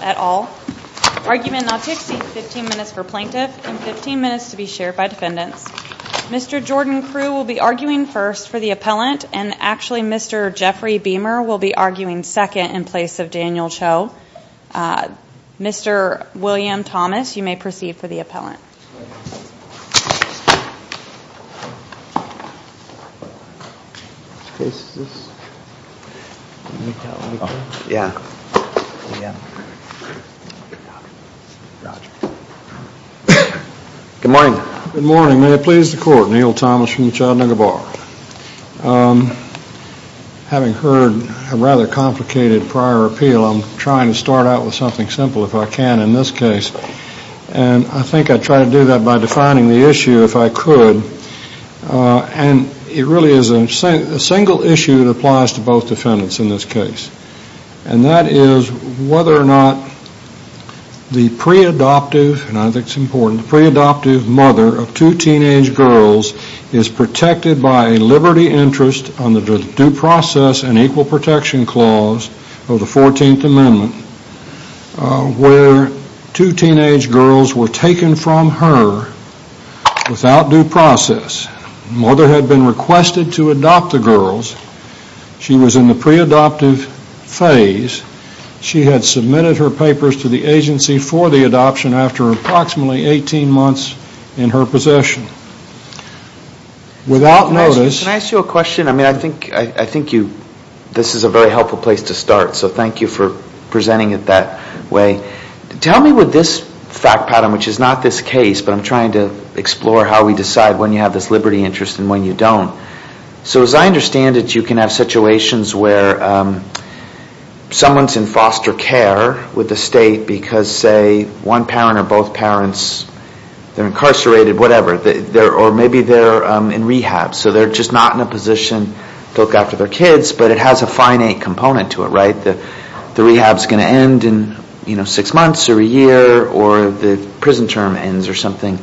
at all. Argument not to exceed 15 minutes for plaintiff and 15 minutes to be shared by defendants. Mr. Jordan Crew will be arguing first for the appellant and actually Mr. Jeffrey Beamer will be arguing second in place of Daniel Cho. Mr. William Thomas, you may proceed for the appellant. Good morning. Good morning. May it please the court, Neil Thomas from the Chattanooga Bar. Having heard a rather complicated prior appeal, I'm trying to start out with something simple if I can in this case. And I think I try to do that by defining the issue if I could. And it really is a single issue that applies to both defendants in this case. And that is whether or not the pre-adoptive, and I think it's important, the pre-adoptive mother of two teenage girls is protected by a liberty interest under the due process and where two teenage girls were taken from her without due process. Mother had been requested to adopt the girls. She was in the pre-adoptive phase. She had submitted her papers to the agency for the adoption after approximately 18 months in her possession. Without notice... Can I ask you a question? I think this is a very helpful place to start. So thank you for that way. Tell me with this fact pattern, which is not this case, but I'm trying to explore how we decide when you have this liberty interest and when you don't. So as I understand it, you can have situations where someone's in foster care with the state because, say, one parent or both parents are incarcerated, whatever, or maybe they're in rehab. So they're just not in a position to look after their kids, but it has a finite component to it, right? The rehab's going to end in six months or a year or the prison term ends or something.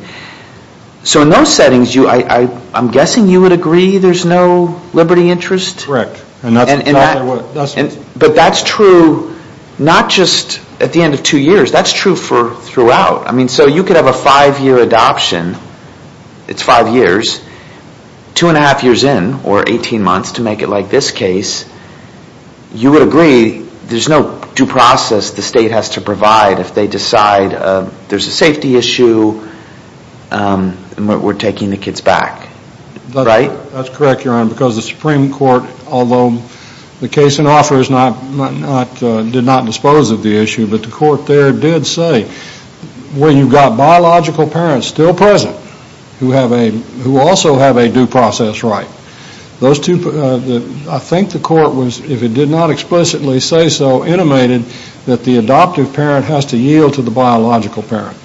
So in those settings, I'm guessing you would agree there's no liberty interest? Correct. But that's true not just at the end of two years. That's true throughout. So you could have a five-year adoption. It's five years. Two and a half years in, or 18 months to make it like this case, you would agree there's no due process the state has to provide if they decide there's a safety issue and we're taking the kids back, right? That's correct, Your Honor, because the Supreme Court, although the case in offer did not dispose of the issue, but the court there did say, well, you've got biological parents still present who also have a due process right. I think the court was, if it did not explicitly say so, intimated that the adoptive parent has to yield to the biological parent.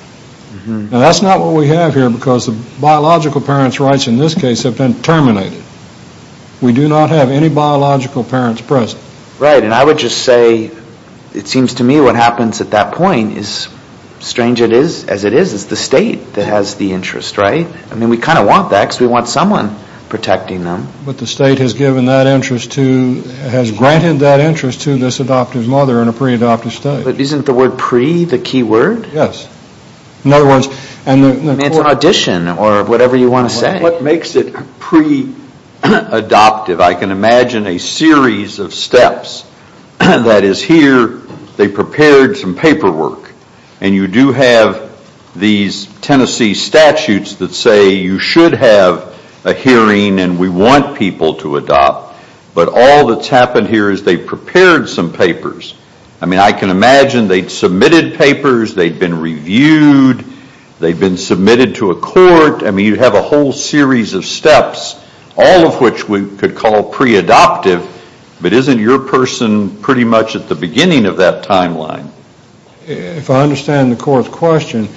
Now, that's not what we have here because the biological parent's rights in this case have been terminated. We do not have any biological parents present. Right, and I would just say it seems to me what happens at that point is, strange as it is, it's the state that has the interest, right? I mean, we kind of want that because we want someone protecting them. But the state has given that interest to, has granted that interest to this adoptive mother in a pre-adoptive state. But isn't the word pre the key word? Yes. It's an audition or whatever you want to say. What makes it pre-adoptive? I can imagine a series of steps. That is, here they prepared some paperwork. And you do have these Tennessee statutes that say you should have a hearing and we want people to adopt. But all that's happened here is they prepared some papers. I mean, I can imagine they'd submitted papers. They'd been reviewed. They'd been submitted to a court. I mean, you have a whole series of steps, all of which we could call pre-adoptive. But isn't your person pretty much at the beginning of that timeline? If I understand the court's question,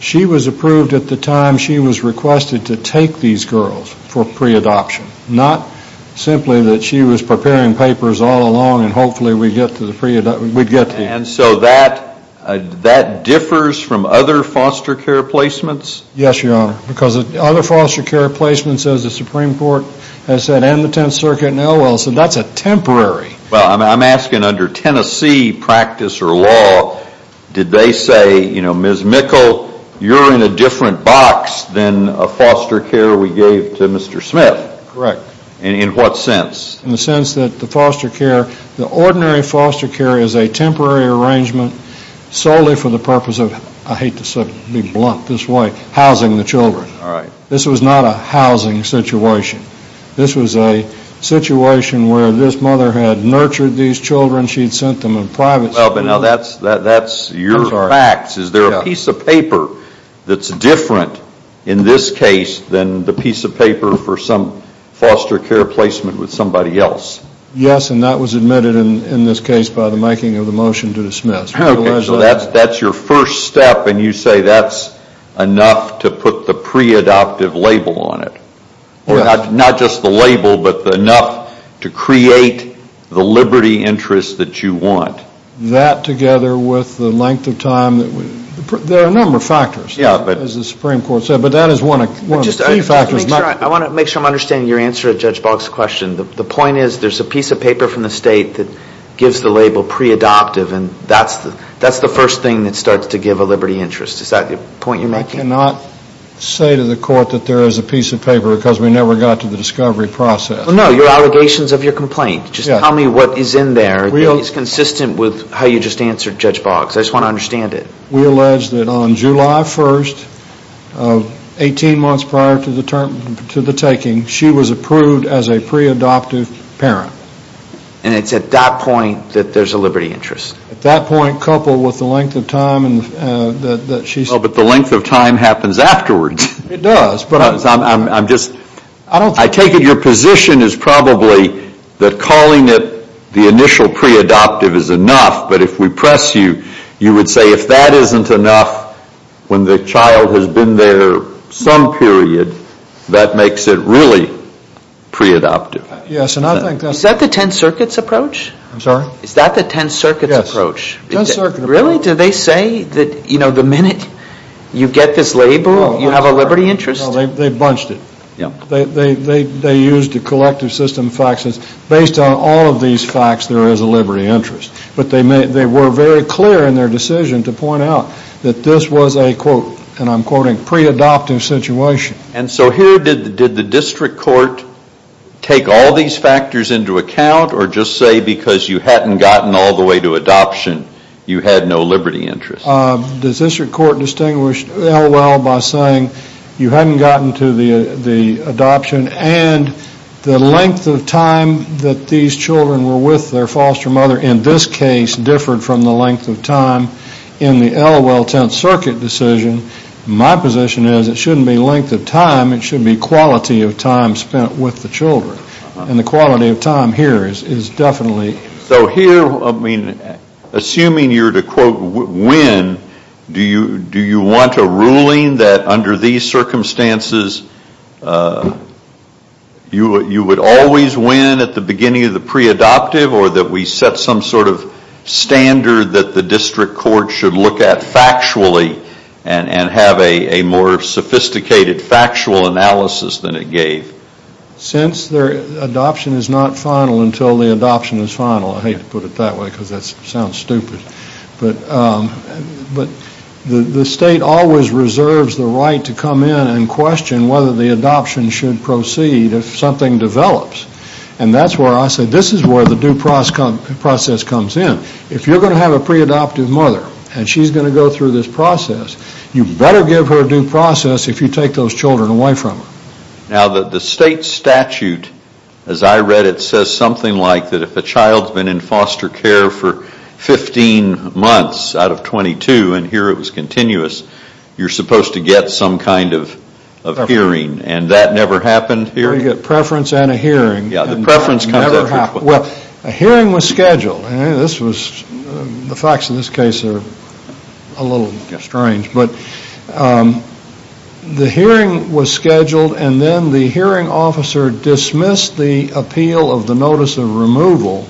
she was approved at the time she was requested to take these girls for pre-adoption. Not simply that she was preparing papers all along and hopefully we'd get to the pre-adoption. And so that differs from other foster care placements? Yes, Your Honor. Because other foster care placements, as the Supreme Court has said, and the 10th Circuit and the O.L. said, that's a temporary. Well, I'm asking under Tennessee practice or law, did they say, you know, foster care we gave to Mr. Smith? Correct. In what sense? In the sense that the foster care, the ordinary foster care is a temporary arrangement solely for the purpose of, I hate to be blunt this way, housing the children. Alright. This was not a housing situation. This was a situation where this mother had nurtured these children. She'd sent them in private schools. Well, but now that's your facts. Is there a piece of paper that's different in this case than the piece of paper for some foster care placement with somebody else? Yes, and that was admitted in this case by the making of the motion to dismiss. Okay, so that's your first step and you say that's enough to put the pre-adoptive label on it. Not just the label, but enough to create the liberty interest that you want. That together with the length of time, there are a number of factors as the Supreme Court said, but that is one of the key factors. I want to make sure I'm understanding your answer to Judge Boggs' question. The point is there's a piece of paper from the state that gives the label pre-adoptive and that's the first thing that starts to give a liberty interest. Is that the point you're making? I cannot say to the court that there is a piece of paper because we never got to the discovery process. No, your allegations of your complaint. Just tell me what is in there that is consistent with how you just answered Judge Boggs. I just want to understand it. We allege that on July 1st, 18 months prior to the taking, she was approved as a pre-adoptive parent. And it's at that point that there's a liberty interest? At that point, coupled with the length of time that she happens afterwards. I take it your position is probably that calling it the initial pre-adoptive is enough, but if we press you, you would say if that isn't enough, when the child has been there some period, that makes it really pre-adoptive. Is that the Ten Circuits approach? I'm sorry? Is that the Ten Circuits approach? Ten Circuits. Really? Do they say that the minute you get this label, you have a liberty interest? No, they bunched it. They used the collective system facts as based on all of these facts, there is a liberty interest. But they were very clear in their decision to point out that this was a quote, and I'm quoting, pre-adoptive situation. And so here, did the district court take all these factors into account, or just say because you hadn't gotten all the way to adoption, you had no liberty interest? The district court distinguished LOL by saying you hadn't gotten to the adoption and the length of time that these children were with their foster mother in this case differed from the length of time in the LOL Ten Circuit decision. My position is it shouldn't be length of time, it should be quality of time spent with the children. And the quality of time here is definitely So here, assuming you're to quote win, do you want a ruling that under these circumstances you would always win at the beginning of the pre-adoptive or that we set some sort of standard that the district court should look at factually and have a more sophisticated factual analysis than it gave? Since adoption is not final until the adoption is final. I hate to put it that way because that sounds stupid. But the state always reserves the right to come in and question whether the adoption should proceed if something develops. And that's where I say this is where the due process comes in. If you're going to have a pre-adoptive mother and she's going to go through this process, you better give her due process if you take those children away from her. Now the state statute, as I read it, says something like that if a child's been in foster care for 15 months out of 22 and here it was continuous, you're supposed to get some kind of hearing and that never happened here? Preference and a hearing. Well, a hearing was scheduled. The facts of this case are a little strange. But the hearing was scheduled and then the hearing officer dismissed the appeal of the notice of removal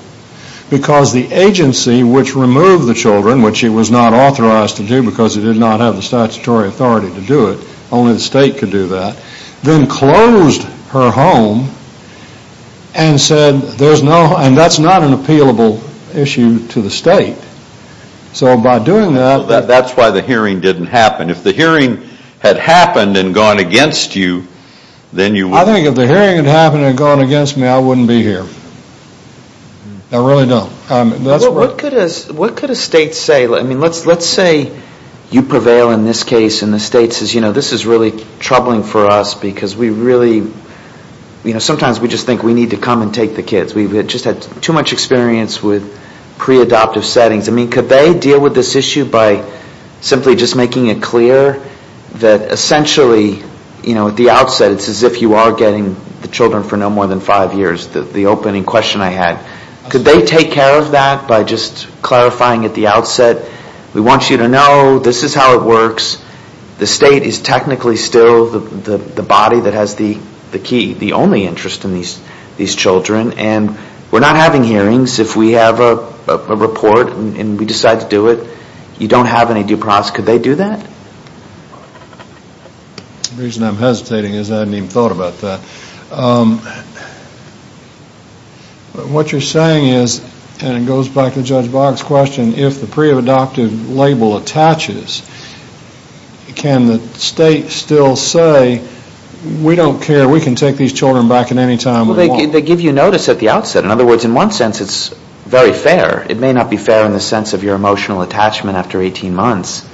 because the agency which removed the children, which it was not authorized to do because it did not have the statutory authority to do it, only the state could do that, then closed her home and said there's no, and that's not an appealable issue to the state. So by doing that. That's why the hearing didn't happen. If the hearing had happened and gone against you, then you would. I think if the hearing had happened and gone against me, I wouldn't be here. I really don't. What could a state say? Let's say you prevail in this case and the state says, you know, this is really troubling for us because we really, you know, sometimes we just think we need to come and take the kids. We've just had too much experience with pre-adoptive settings. I mean, could they deal with this issue by simply just making it clear that essentially, you know, at the outset it's as if you are getting the children for no more than five years, the opening question I had. Could they take care of that by just clarifying at the outset, we want you to know this is how it works. The state is technically still the body that has the key, the only interest in these children, and we're not having hearings if we have a report and we decide to do it. You don't have any due process. Could they do that? The reason I'm hesitating is I hadn't even thought about that. What you're saying is, and it goes back to Judge Boggs' question, if the pre-adoptive label attaches, can the state still say, we don't care, we can take these children back at any time. Well, they give you notice at the outset. In other words, in one sense it's very fair. It may not be fair in the sense of your emotional attachment after 18 months,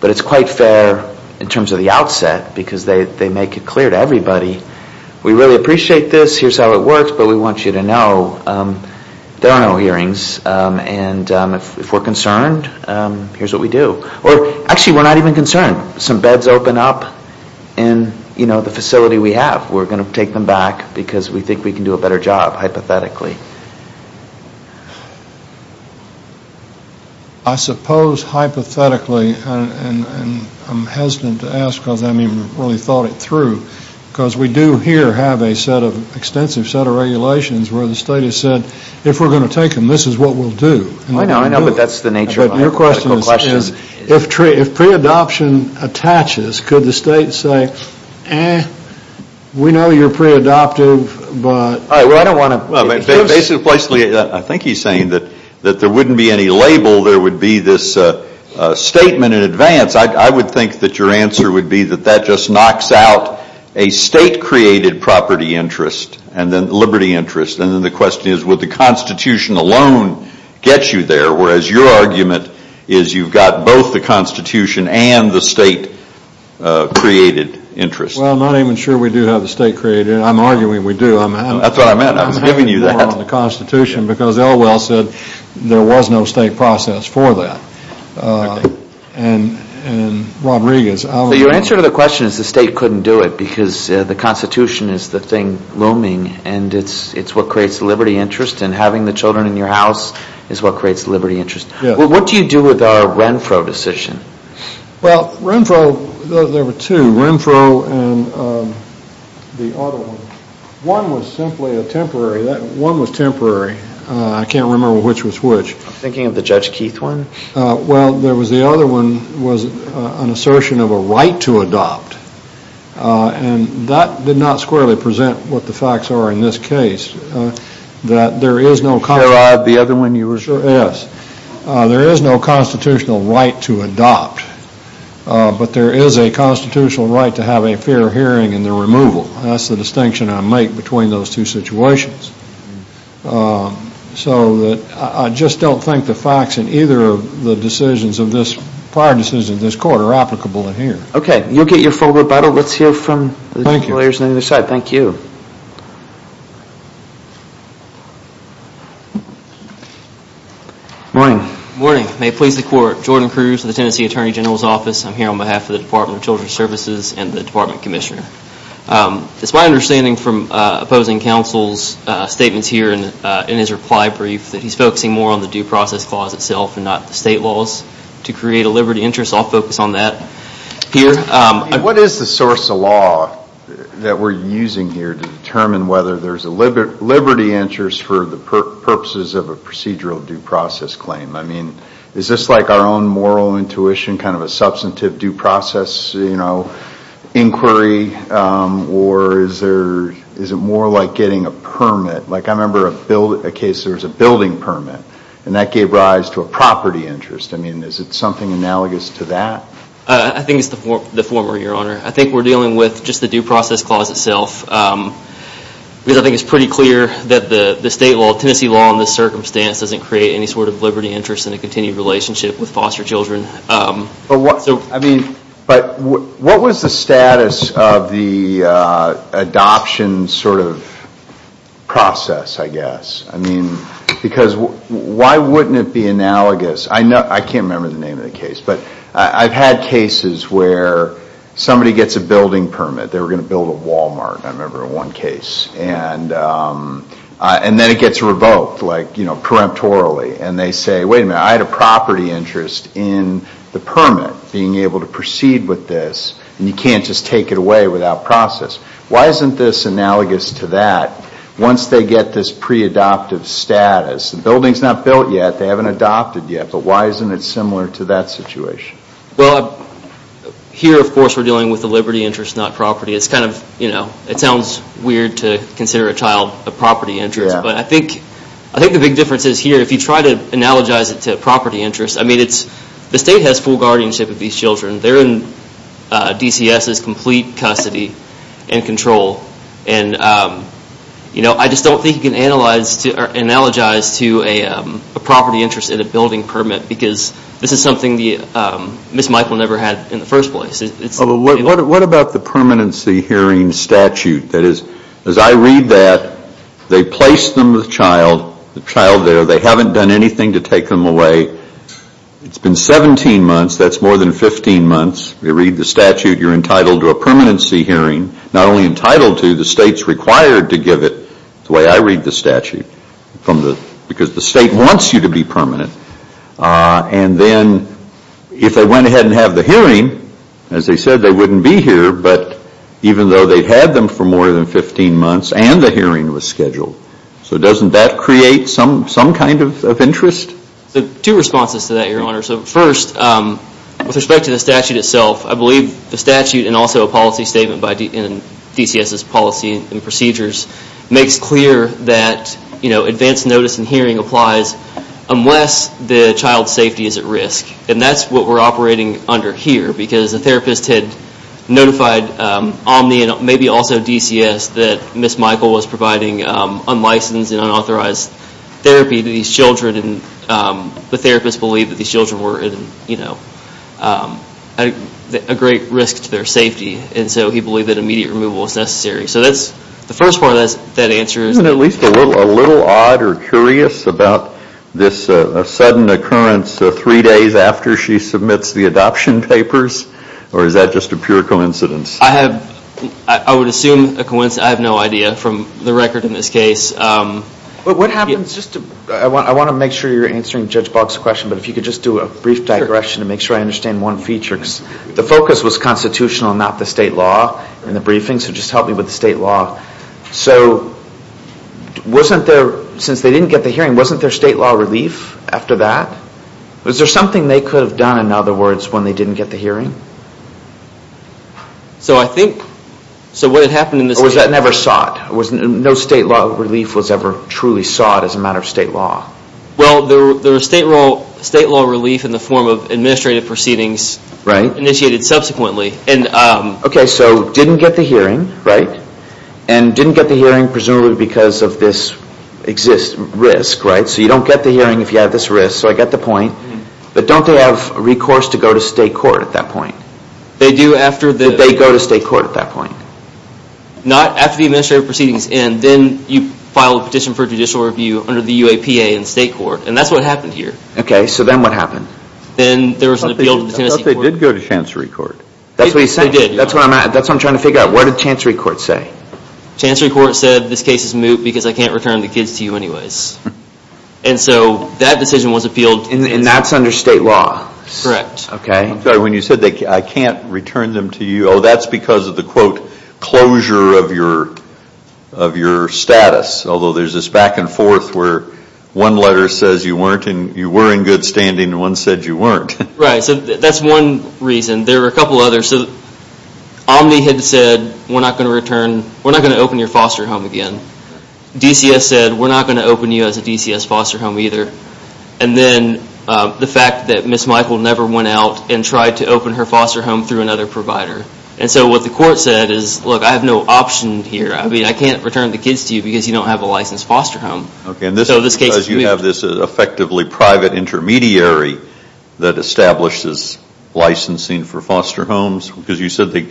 but it's quite fair in terms of the outset because they make it clear to everybody, we really appreciate this, here's how it works, but we want you to know there are no hearings, and if we're concerned, here's what we do. Actually, we're not even concerned. Some beds open up in the facility we have. We're going to take them back because we think we can do a better job, hypothetically. I suppose hypothetically, and I'm hesitant to ask because I haven't even really thought it through, because we do here have an extensive set of regulations where the state has said, if we're going to take them, this is what we'll do. Your question is, if pre-adoption attaches, could the state say, eh, we know you're pre-adoptive, but... I think he's saying that there wouldn't be any label. There would be this statement in advance. I would think that your answer would be that that just knocks out a state-created property interest, liberty interest, and then the question is, will the Constitution alone get you there, whereas your argument is you've got both the Constitution and the state-created interest. Well, I'm not even sure we do have the state-created. I'm arguing we do. That's what I meant. I was giving you that. The Constitution, because Elwell said there was no state process for that. And Rodriguez... So your answer to the question is the state couldn't do it because the Constitution is the thing looming, and it's what creates liberty interest, and having the children in your house is what creates liberty interest. Yes. What do you do with our Renfro decision? Well, Renfro, there were two. Renfro and the other one. One was simply a temporary. One was temporary. I can't remember which was which. I'm thinking of the Judge Keith one. Well, there was the other one was an assertion of a right to adopt. And that did not squarely present what the facts are in this case, that there is no... Sherrod, the other one you were... Yes. There is no constitutional right to adopt. But there is a constitutional right to have a fair hearing in the removal. That's the distinction I make between those two situations. So I just don't think the facts in either of the decisions of this, prior decisions of this court are applicable in here. Okay. You'll get your full rebuttal. Let's hear from the lawyers on the other side. Thank you. Morning. Morning. May it please the Court. Jordan Cruz with the Tennessee Attorney General's Office. I'm here on behalf of the Department of Children's Services and the Department Commissioner. It's my understanding from opposing counsel's statements here in his reply brief that he's focusing more on the due process clause itself and not the state laws to create a liberty interest. I'll focus on that here. What is the source of law that we're using here to determine whether there's a liberty interest for the purposes of a procedural due process claim? I mean, is this like our own moral intuition, kind of a substantive due process inquiry? Or is it more like getting a permit? Like I remember a case where there was a building permit, and that gave rise to a property interest. I mean, is it something analogous to that? I think it's the former, Your Honor. I think we're dealing with just the due process clause itself. Because I think it's pretty clear that the Tennessee law in this circumstance doesn't create any sort of liberty interest in a continued relationship with foster children. But what was the status of the adoption sort of process, I guess? I mean, because why wouldn't it be analogous? I can't remember the name of the case, but I've had cases where somebody gets a building permit. They were going to build a Walmart, I remember, in one case. And then it gets revoked, like, you know, peremptorily. And they say, wait a minute, I had a property interest in the permit being able to proceed with this, and you can't just take it away without process. Why isn't this analogous to that? Once they get this pre-adoptive status, the building's not built yet, they haven't adopted yet, but why isn't it similar to that situation? Well, here, of course, we're dealing with the liberty interest, not property. It's kind of, you know, it sounds weird to consider a child a property interest. But I think the big difference is here, if you try to analogize it to property interest, I mean, the state has full guardianship of these children. They're in DCS's complete custody and control. And, you know, I just don't think you can analyze or analogize to a property interest in a building permit, because this is something that Ms. Michael never had in the first place. What about the permanency hearing statute? That is, as I read that, they place them with the child, the child there, they haven't done anything to take them away. It's been 17 months, that's more than 15 months. They read the statute, you're entitled to a permanency hearing. Not only entitled to, the state's required to give it, the way I read the statute, because the state wants you to be permanent. And then, if they went ahead and have the hearing, as they said, they wouldn't be here, but even though they've had them for more than 15 months and the hearing was scheduled. So doesn't that create some kind of interest? Two responses to that, Your Honor. First, with respect to the statute itself, I believe the statute and also a policy statement in DCS's policy and procedures makes clear that advanced notice and hearing applies unless the child's safety is at risk. And that's what we're operating under here, because the therapist had notified Omni and maybe also DCS that Ms. Michael was providing unlicensed and unauthorized therapy to these children, and the therapist believed that these children were at a great risk to their safety. And so he believed that immediate removal was necessary. So that's the first part of that answer. Isn't it at least a little odd or curious about this sudden occurrence three days after she submits the adoption papers? Or is that just a pure coincidence? I would assume a coincidence. I have no idea from the record in this case. What happens, I want to make sure you're answering Judge Boggs' question, but if you could just do a brief digression to make sure I understand one feature, because the focus was constitutional and not the state law in the briefing, so just help me with the state law. So wasn't there, since they didn't get the hearing, wasn't there state law relief after that? Was there something they could have done, in other words, when they didn't get the hearing? So I think, so what had happened in this case... Or was that never sought? No state law relief was ever truly sought as a matter of state law? Well, there was state law relief in the form of administrative proceedings initiated subsequently. Okay, so didn't get the hearing, right? And didn't get the hearing presumably because of this risk, right? So you don't get the hearing if you have this risk, so I get the point. But don't they have recourse to go to state court at that point? They do after the... Did they go to state court at that point? Not after the administrative proceedings end. Then you file a petition for judicial review under the UAPA in state court, and that's what happened here. Okay, so then what happened? Then there was an appeal to the Tennessee court. I thought they did go to Chancery Court. That's what you said? They did. That's what I'm trying to figure out. Where did Chancery Court say? Chancery Court said this case is moot because I can't return the kids to you anyways. And so that decision was appealed. And that's under state law? Correct. Okay. I'm sorry, when you said I can't return them to you, oh, that's because of the, quote, closure of your status. Although there's this back and forth where one letter says you were in good standing and one said you weren't. Right, so that's one reason. There were a couple others. Omni had said we're not going to return, we're not going to open your foster home again. DCS said we're not going to open you as a DCS foster home either. And then the fact that Ms. Michael never went out and tried to open her foster home through another provider. And so what the court said is, look, I have no option here. I mean, I can't return the kids to you because you don't have a licensed foster home. Okay, and this is because you have this effectively private intermediary that establishes licensing for foster homes? Because you said they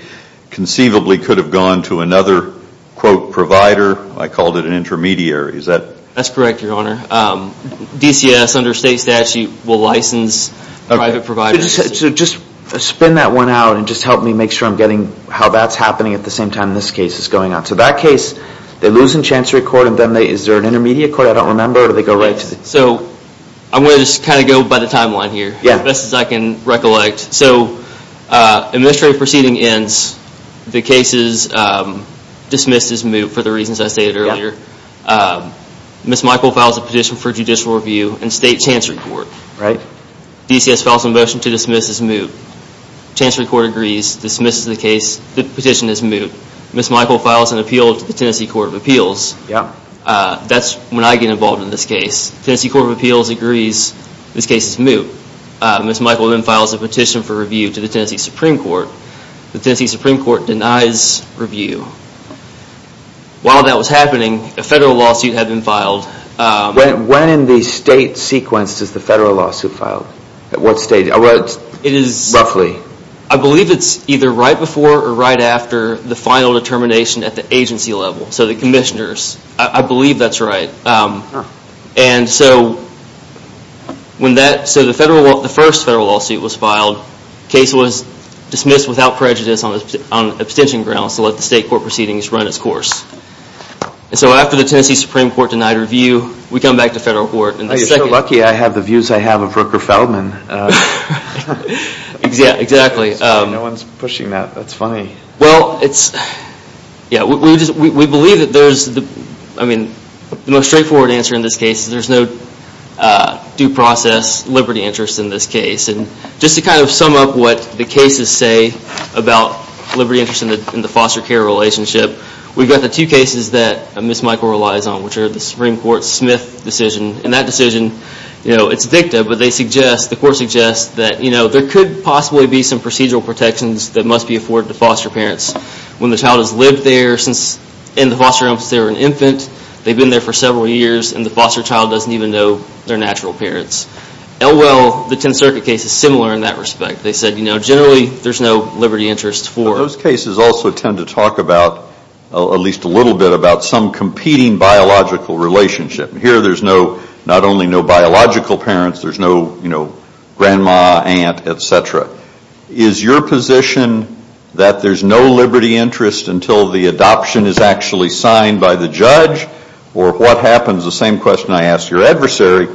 conceivably could have gone to another, quote, provider. I called it an intermediary. Is that? That's correct, Your Honor. DCS under state statute will license private providers. So just spin that one out and just help me make sure I'm getting how that's happening at the same time this case is going on. So that case, they lose in Chancery Court and then is there an intermediate court? I don't remember. So I'm going to just kind of go by the timeline here as best as I can recollect. So administrative proceeding ends, the case is dismissed as moot for the reasons I stated earlier. Ms. Michael files a petition for judicial review in state Chancery Court. DCS files a motion to dismiss as moot. Chancery Court agrees, dismisses the case, the petition is moot. Ms. Michael files an appeal to the Tennessee Court of Appeals. That's when I get involved in this case. Tennessee Court of Appeals agrees this case is moot. Ms. Michael then files a petition for review to the Tennessee Supreme Court. The Tennessee Supreme Court denies review. While that was happening, a federal lawsuit had been filed. When in the state sequence does the federal lawsuit file? At what stage? It is roughly. I believe it's either right before or right after the final determination at the agency level. So the commissioners. I believe that's right. So the first federal lawsuit was filed. The case was dismissed without prejudice on abstention grounds to let the state court proceedings run its course. So after the Tennessee Supreme Court denied review, we come back to federal court. You're so lucky I have the views I have of Rooker Feldman. Exactly. No one is pushing that. That's funny. Well, we believe that there's the most straightforward answer in this case. There's no due process liberty interest in this case. Just to kind of sum up what the cases say about liberty interest in the foster care relationship, we've got the two cases that Ms. Michael relies on, which are the Supreme Court Smith decision. In that decision, it's a dicta, but the court suggests that there could possibly be some procedural protections that must be afforded to foster parents. When the child has lived there in the foster home since they were an infant, they've been there for several years, and the foster child doesn't even know their natural parents. Elwell, the 10th Circuit case, is similar in that respect. They said generally there's no liberty interest for them. Those cases also tend to talk about, at least a little bit, about some competing biological relationship. Here there's not only no biological parents. There's no grandma, aunt, et cetera. Is your position that there's no liberty interest until the adoption is actually signed by the judge? Or what happens, the same question I asked your adversary,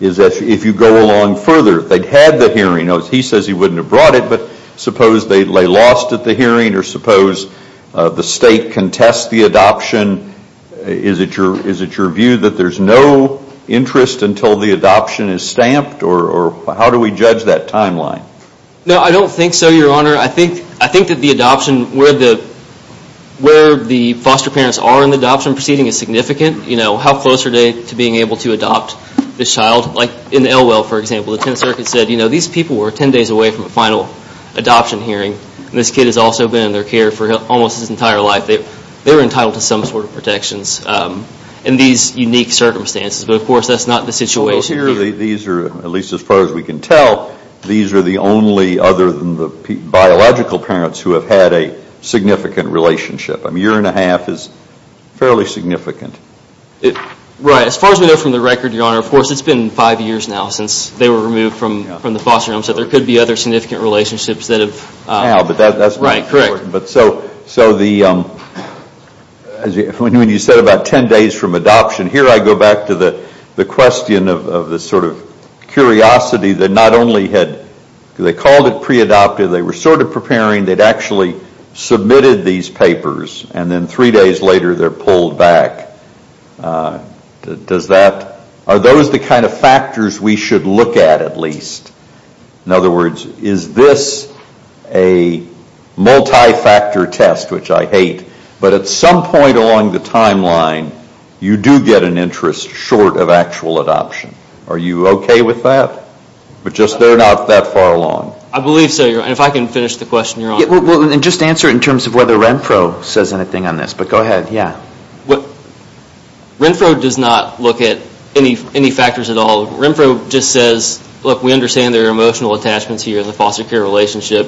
is that if you go along further, they'd had the hearing. He says he wouldn't have brought it, but suppose they lay lost at the hearing, or suppose the state contests the adoption. Is it your view that there's no interest until the adoption is stamped? Or how do we judge that timeline? No, I don't think so, Your Honor. I think that the adoption, where the foster parents are in the adoption proceeding is significant. How close are they to being able to adopt this child? Like in Elwell, for example, the 10th Circuit said, these people were 10 days away from the final adoption hearing. This kid has also been in their care for almost his entire life. They were entitled to some sort of protections in these unique circumstances. But, of course, that's not the situation here. These are, at least as far as we can tell, these are the only other than the biological parents who have had a significant relationship. A year and a half is fairly significant. As far as we know from the record, Your Honor, of course, it's been five years now since they were removed from the foster home, so there could be other significant relationships that have – Right, correct. So when you said about 10 days from adoption, here I go back to the question of the sort of curiosity that not only had – they called it pre-adopted, they were sort of preparing, they'd actually submitted these papers, and then three days later they're pulled back. Are those the kind of factors we should look at, at least? In other words, is this a multi-factor test, which I hate, but at some point along the timeline you do get an interest short of actual adoption? Are you okay with that? But just they're not that far along. I believe so, Your Honor. If I can finish the question, Your Honor. Just answer it in terms of whether Renfro says anything on this, but go ahead, yeah. Renfro does not look at any factors at all. Renfro just says, look, we understand there are emotional attachments here in the foster care relationship,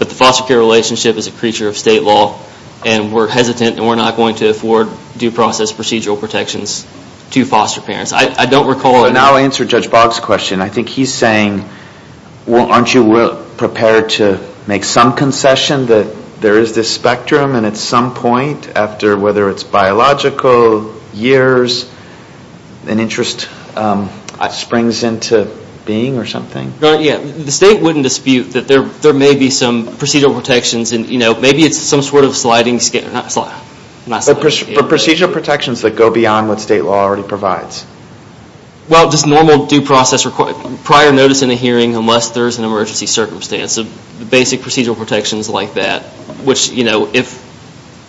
but the foster care relationship is a creature of state law, and we're hesitant and we're not going to afford due process procedural protections to foster parents. I don't recall – And I'll answer Judge Boggs' question. I think he's saying, well, aren't you prepared to make some concession that there is this spectrum, and at some point, after whether it's biological, years, an interest springs into being or something? Your Honor, yeah. The state wouldn't dispute that there may be some procedural protections, and maybe it's some sort of sliding – But procedural protections that go beyond what state law already provides. Well, just normal due process – prior notice in a hearing unless there's an emergency circumstance. Basic procedural protections like that, which, you know, if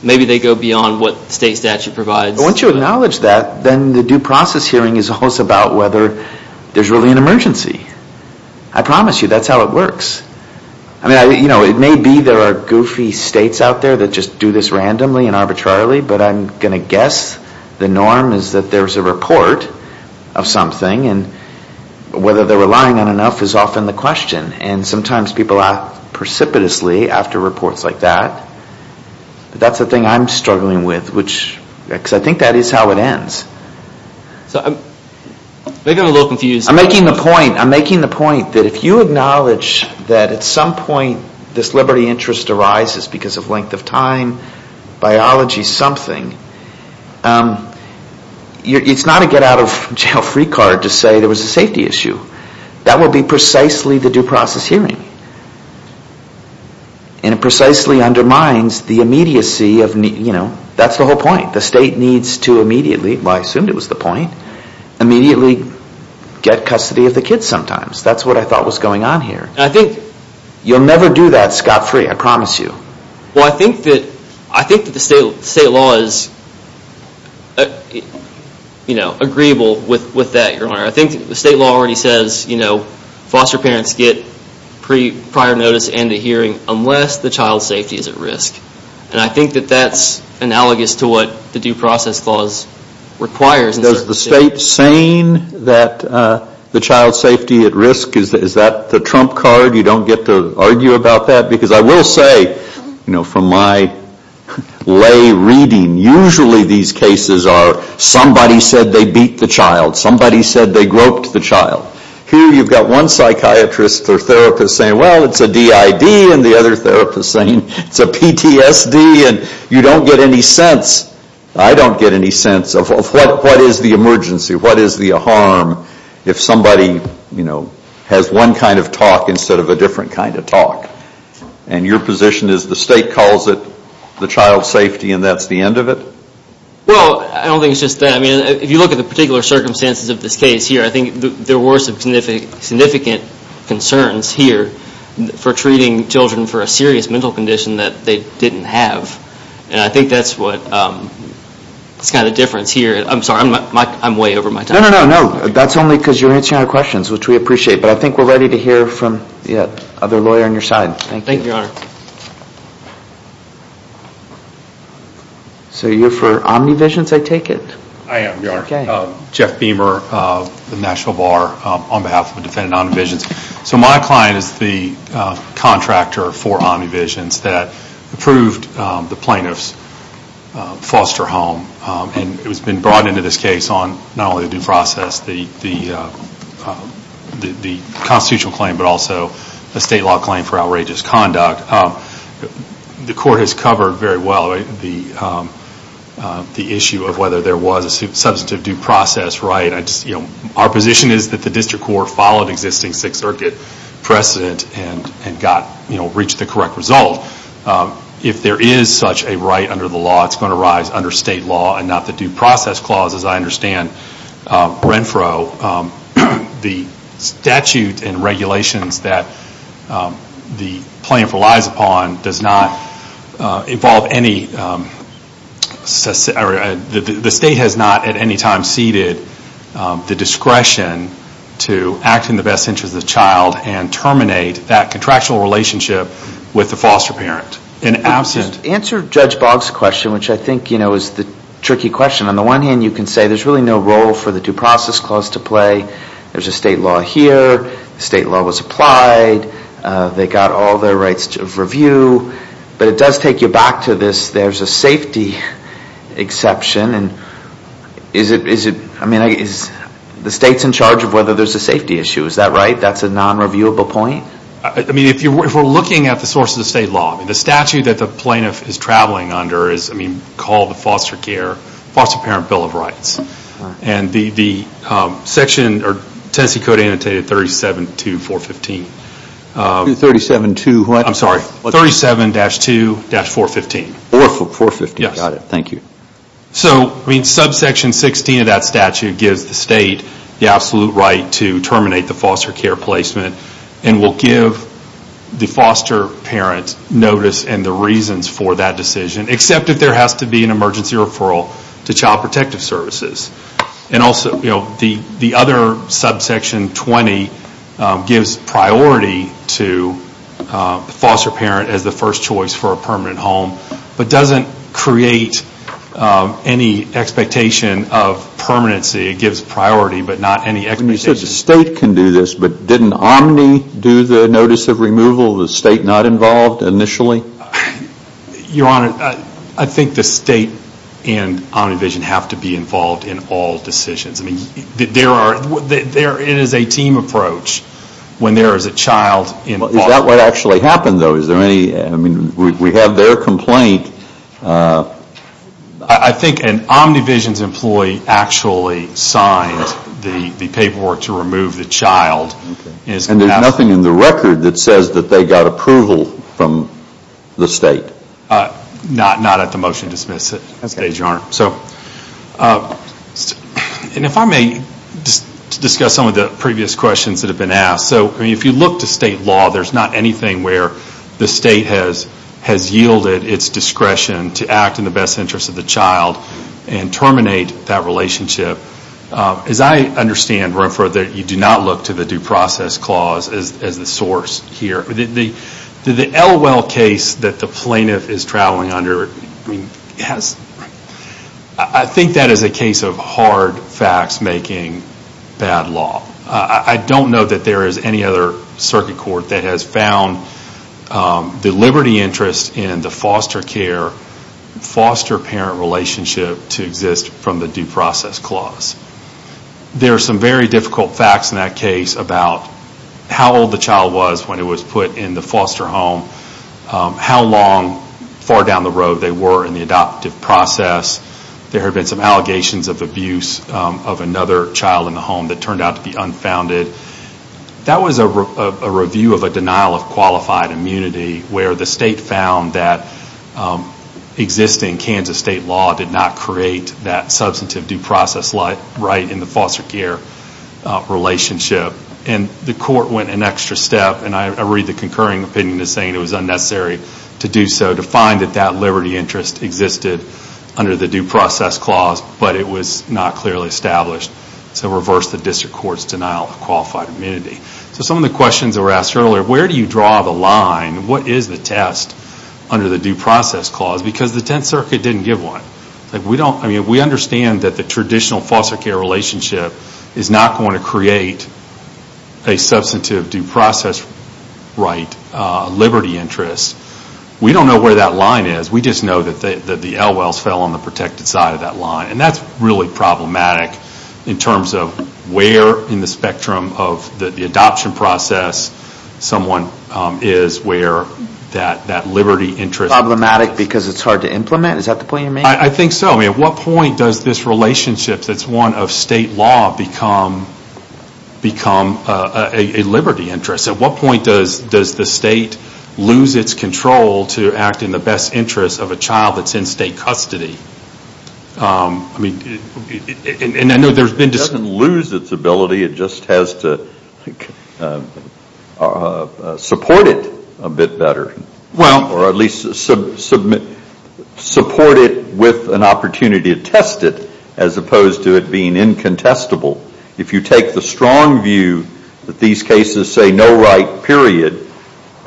maybe they go beyond what state statute provides. Once you acknowledge that, then the due process hearing is also about whether there's really an emergency. I promise you that's how it works. I mean, you know, it may be there are goofy states out there that just do this randomly and arbitrarily, but I'm going to guess the norm is that there's a report of something, and whether they're relying on enough is often the question. And sometimes people act precipitously after reports like that. But that's the thing I'm struggling with, which – because I think that is how it ends. So I'm – maybe I'm a little confused. I'm making the point – I'm making the point that if you acknowledge that at some point this liberty interest arises because of length of time, biology, something, it's not a get-out-of-jail-free card to say there was a safety issue. That would be precisely the due process hearing. And it precisely undermines the immediacy of – you know, that's the whole point. The state needs to immediately – well, I assumed it was the point – immediately get custody of the kids sometimes. That's what I thought was going on here. You'll never do that scot-free, I promise you. Well, I think that the state law is, you know, agreeable with that, Your Honor. I think the state law already says, you know, foster parents get prior notice and a hearing unless the child's safety is at risk. And I think that that's analogous to what the due process clause requires. Does the state saying that the child's safety at risk, is that the trump card? You don't get to argue about that? Because I will say, you know, from my lay reading, usually these cases are somebody said they beat the child. Somebody said they groped the child. Here you've got one psychiatrist or therapist saying, well, it's a DID, and the other therapist saying it's a PTSD, and you don't get any sense – I don't get any sense of what is the emergency, what is the harm, if somebody, you know, has one kind of talk instead of a different kind of talk. And your position is the state calls it the child's safety and that's the end of it? Well, I don't think it's just that. I mean, if you look at the particular circumstances of this case here, I think there were some significant concerns here for treating children for a serious mental condition that they didn't have. And I think that's what – it's kind of the difference here. I'm sorry, I'm way over my time. No, no, no, that's only because you're answering our questions, which we appreciate. But I think we're ready to hear from the other lawyer on your side. Thank you. Thank you, Your Honor. So you're for Omnivisions, I take it? I am, Your Honor. Okay. Jeff Beamer of the National Bar on behalf of the defendant, Omnivisions. So my client is the contractor for Omnivisions that approved the plaintiff's foster home. And it has been brought into this case on not only the due process, the constitutional claim, but also the state law claim for outrageous conduct. The court has covered very well the issue of whether there was a substantive due process right. Our position is that the district court followed existing Sixth Circuit precedent and reached the correct result. If there is such a right under the law, it's going to rise under state law and not the due process clause, as I understand. The statute and regulations that the plaintiff relies upon does not involve any The state has not at any time ceded the discretion to act in the best interest of the child and terminate that contractual relationship with the foster parent. Answer Judge Boggs' question, which I think is the tricky question. On the one hand, you can say there's really no role for the due process clause to play. There's a state law here. State law was applied. They got all their rights of review. But it does take you back to this, there's a safety exception. And is it, I mean, the state's in charge of whether there's a safety issue. Is that right? That's a non-reviewable point? I mean, if we're looking at the source of the state law, the statute that the plaintiff is traveling under is, I mean, called the foster care, foster parent bill of rights. And the section, or Tennessee code annotated 37.2.415. 37.2 what? I'm sorry, 37-2-415. 415, got it, thank you. So, I mean, subsection 16 of that statute gives the state the absolute right to terminate the foster care placement and will give the foster parent notice and the reasons for that decision. Except if there has to be an emergency referral to Child Protective Services. And also, you know, the other subsection 20 gives priority to foster parent as the first choice for a permanent home. But doesn't create any expectation of permanency. It gives priority, but not any expectation. You said the state can do this, but didn't Omni do the notice of removal? The state not involved initially? Your Honor, I think the state and OmniVision have to be involved in all decisions. I mean, there are, it is a team approach when there is a child involved. Is that what actually happened, though? Is there any, I mean, we have their complaint. I think an OmniVision's employee actually signed the paperwork to remove the child. And there is nothing in the record that says that they got approval from the state? Not at the motion to dismiss it. And if I may discuss some of the previous questions that have been asked. So, if you look to state law, there is not anything where the state has yielded its discretion to act in the best interest of the child and terminate that relationship. As I understand, you do not look to the due process clause as the source here. The Elwell case that the plaintiff is traveling under, I think that is a case of hard facts making bad law. I don't know that there is any other circuit court that has found the liberty interest in the foster care, foster parent relationship to exist from the due process clause. There are some very difficult facts in that case about how old the child was when it was put in the foster home, how long, far down the road they were in the adoptive process. There have been some allegations of abuse of another child in the home that turned out to be unfounded. That was a review of a denial of qualified immunity where the state found that existing Kansas state law did not create that substantive due process right in the foster care relationship. And the court went an extra step, and I read the concurring opinion as saying it was unnecessary to do so, to find that that liberty interest existed under the due process clause, but it was not clearly established. So reverse the district court's denial of qualified immunity. So some of the questions that were asked earlier, where do you draw the line? What is the test under the due process clause? Because the Tenth Circuit didn't give one. We understand that the traditional foster care relationship is not going to create a substantive due process right liberty interest. We don't know where that line is. We just know that the Elwells fell on the protected side of that line. And that's really problematic in terms of where in the spectrum of the adoption process someone is where that liberty interest... Problematic because it's hard to implement? Is that the point you're making? I think so. At what point does this relationship that's one of state law become a liberty interest? At what point does the state lose its control to act in the best interest of a child that's in state custody? It doesn't lose its ability, it just has to support it a bit better. Or at least support it with an opportunity to test it as opposed to it being incontestable. If you take the strong view that these cases say no right period,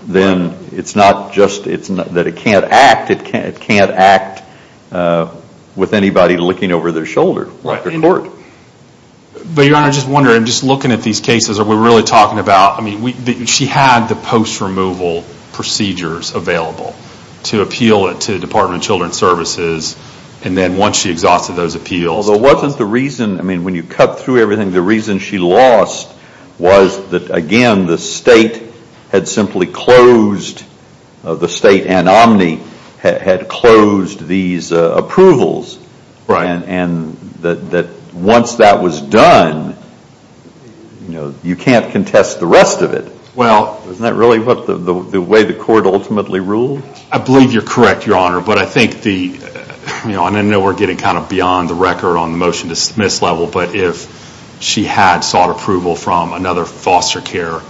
then it's not just that it can't act. It can't act with anybody looking over their shoulder. Your Honor, I'm just wondering, just looking at these cases, are we really talking about... She had the post removal procedures available to appeal it to the Department of Children's Services. And then once she exhausted those appeals... Well, there wasn't the reason... I mean, when you cut through everything, the reason she lost was that, again, the state had simply closed... The state and Omni had closed these approvals. Right. And that once that was done, you can't contest the rest of it. Well... Isn't that really the way the court ultimately rules? I believe you're correct, Your Honor. But I think the... I know we're getting kind of beyond the record on the motion to dismiss level, but if she had sought approval from another foster care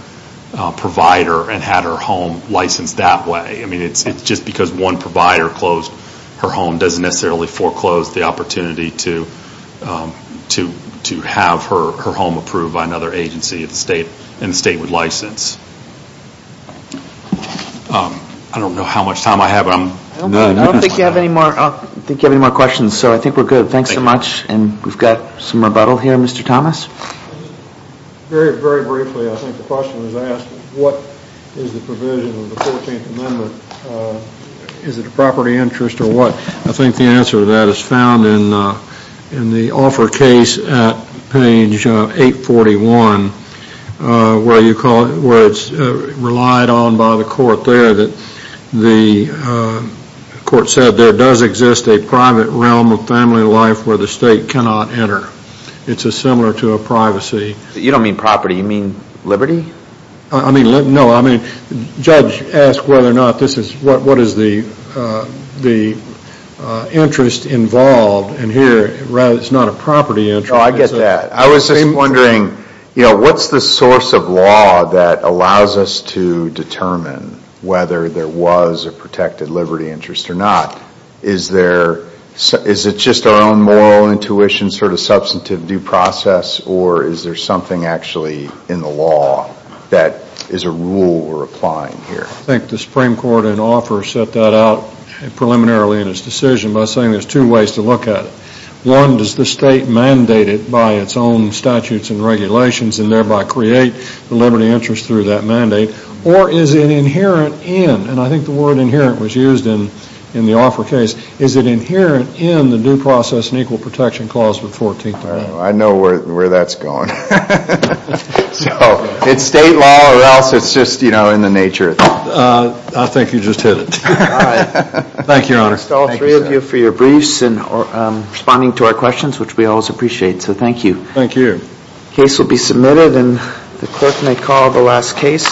provider and had her home licensed that way, I mean, it's just because one provider closed her home doesn't necessarily foreclose the opportunity to have her home approved by another agency and the state would license. I don't know how much time I have, but I'm... I don't think you have any more questions, so I think we're good. Thanks so much. And we've got some rebuttal here. Mr. Thomas? Very, very briefly, I think the question was asked, what is the provision of the 14th Amendment? Is it a property interest or what? I think the answer to that is found in the offer case at page 841, where you call it, where it's relied on by the court there that the court said there does exist a private realm of family life where the state cannot enter. It's similar to a privacy. You don't mean property. You mean liberty? I mean, no. I mean, the judge asked whether or not this is, what is the interest involved, and here it's not a property interest. No, I get that. I was just wondering, you know, what's the source of law that allows us to determine whether there was a protected liberty interest or not? Is it just our own moral intuition, sort of substantive due process, or is there something actually in the law that is a rule we're applying here? I think the Supreme Court in offer set that out preliminarily in its decision by saying there's two ways to look at it. One, does the state mandate it by its own statutes and regulations and thereby create the liberty interest through that mandate, or is it inherent in, and I think the word inherent was used in the offer case, is it inherent in the Due Process and Equal Protection Clause of the 14th Amendment? I know where that's going. So it's state law or else it's just, you know, in the nature of it. I think you just hit it. All right. Thank you, Your Honor. I want to thank all three of you for your briefs and responding to our questions, which we always appreciate, so thank you. Thank you. The case will be submitted, and the clerk may call the last case.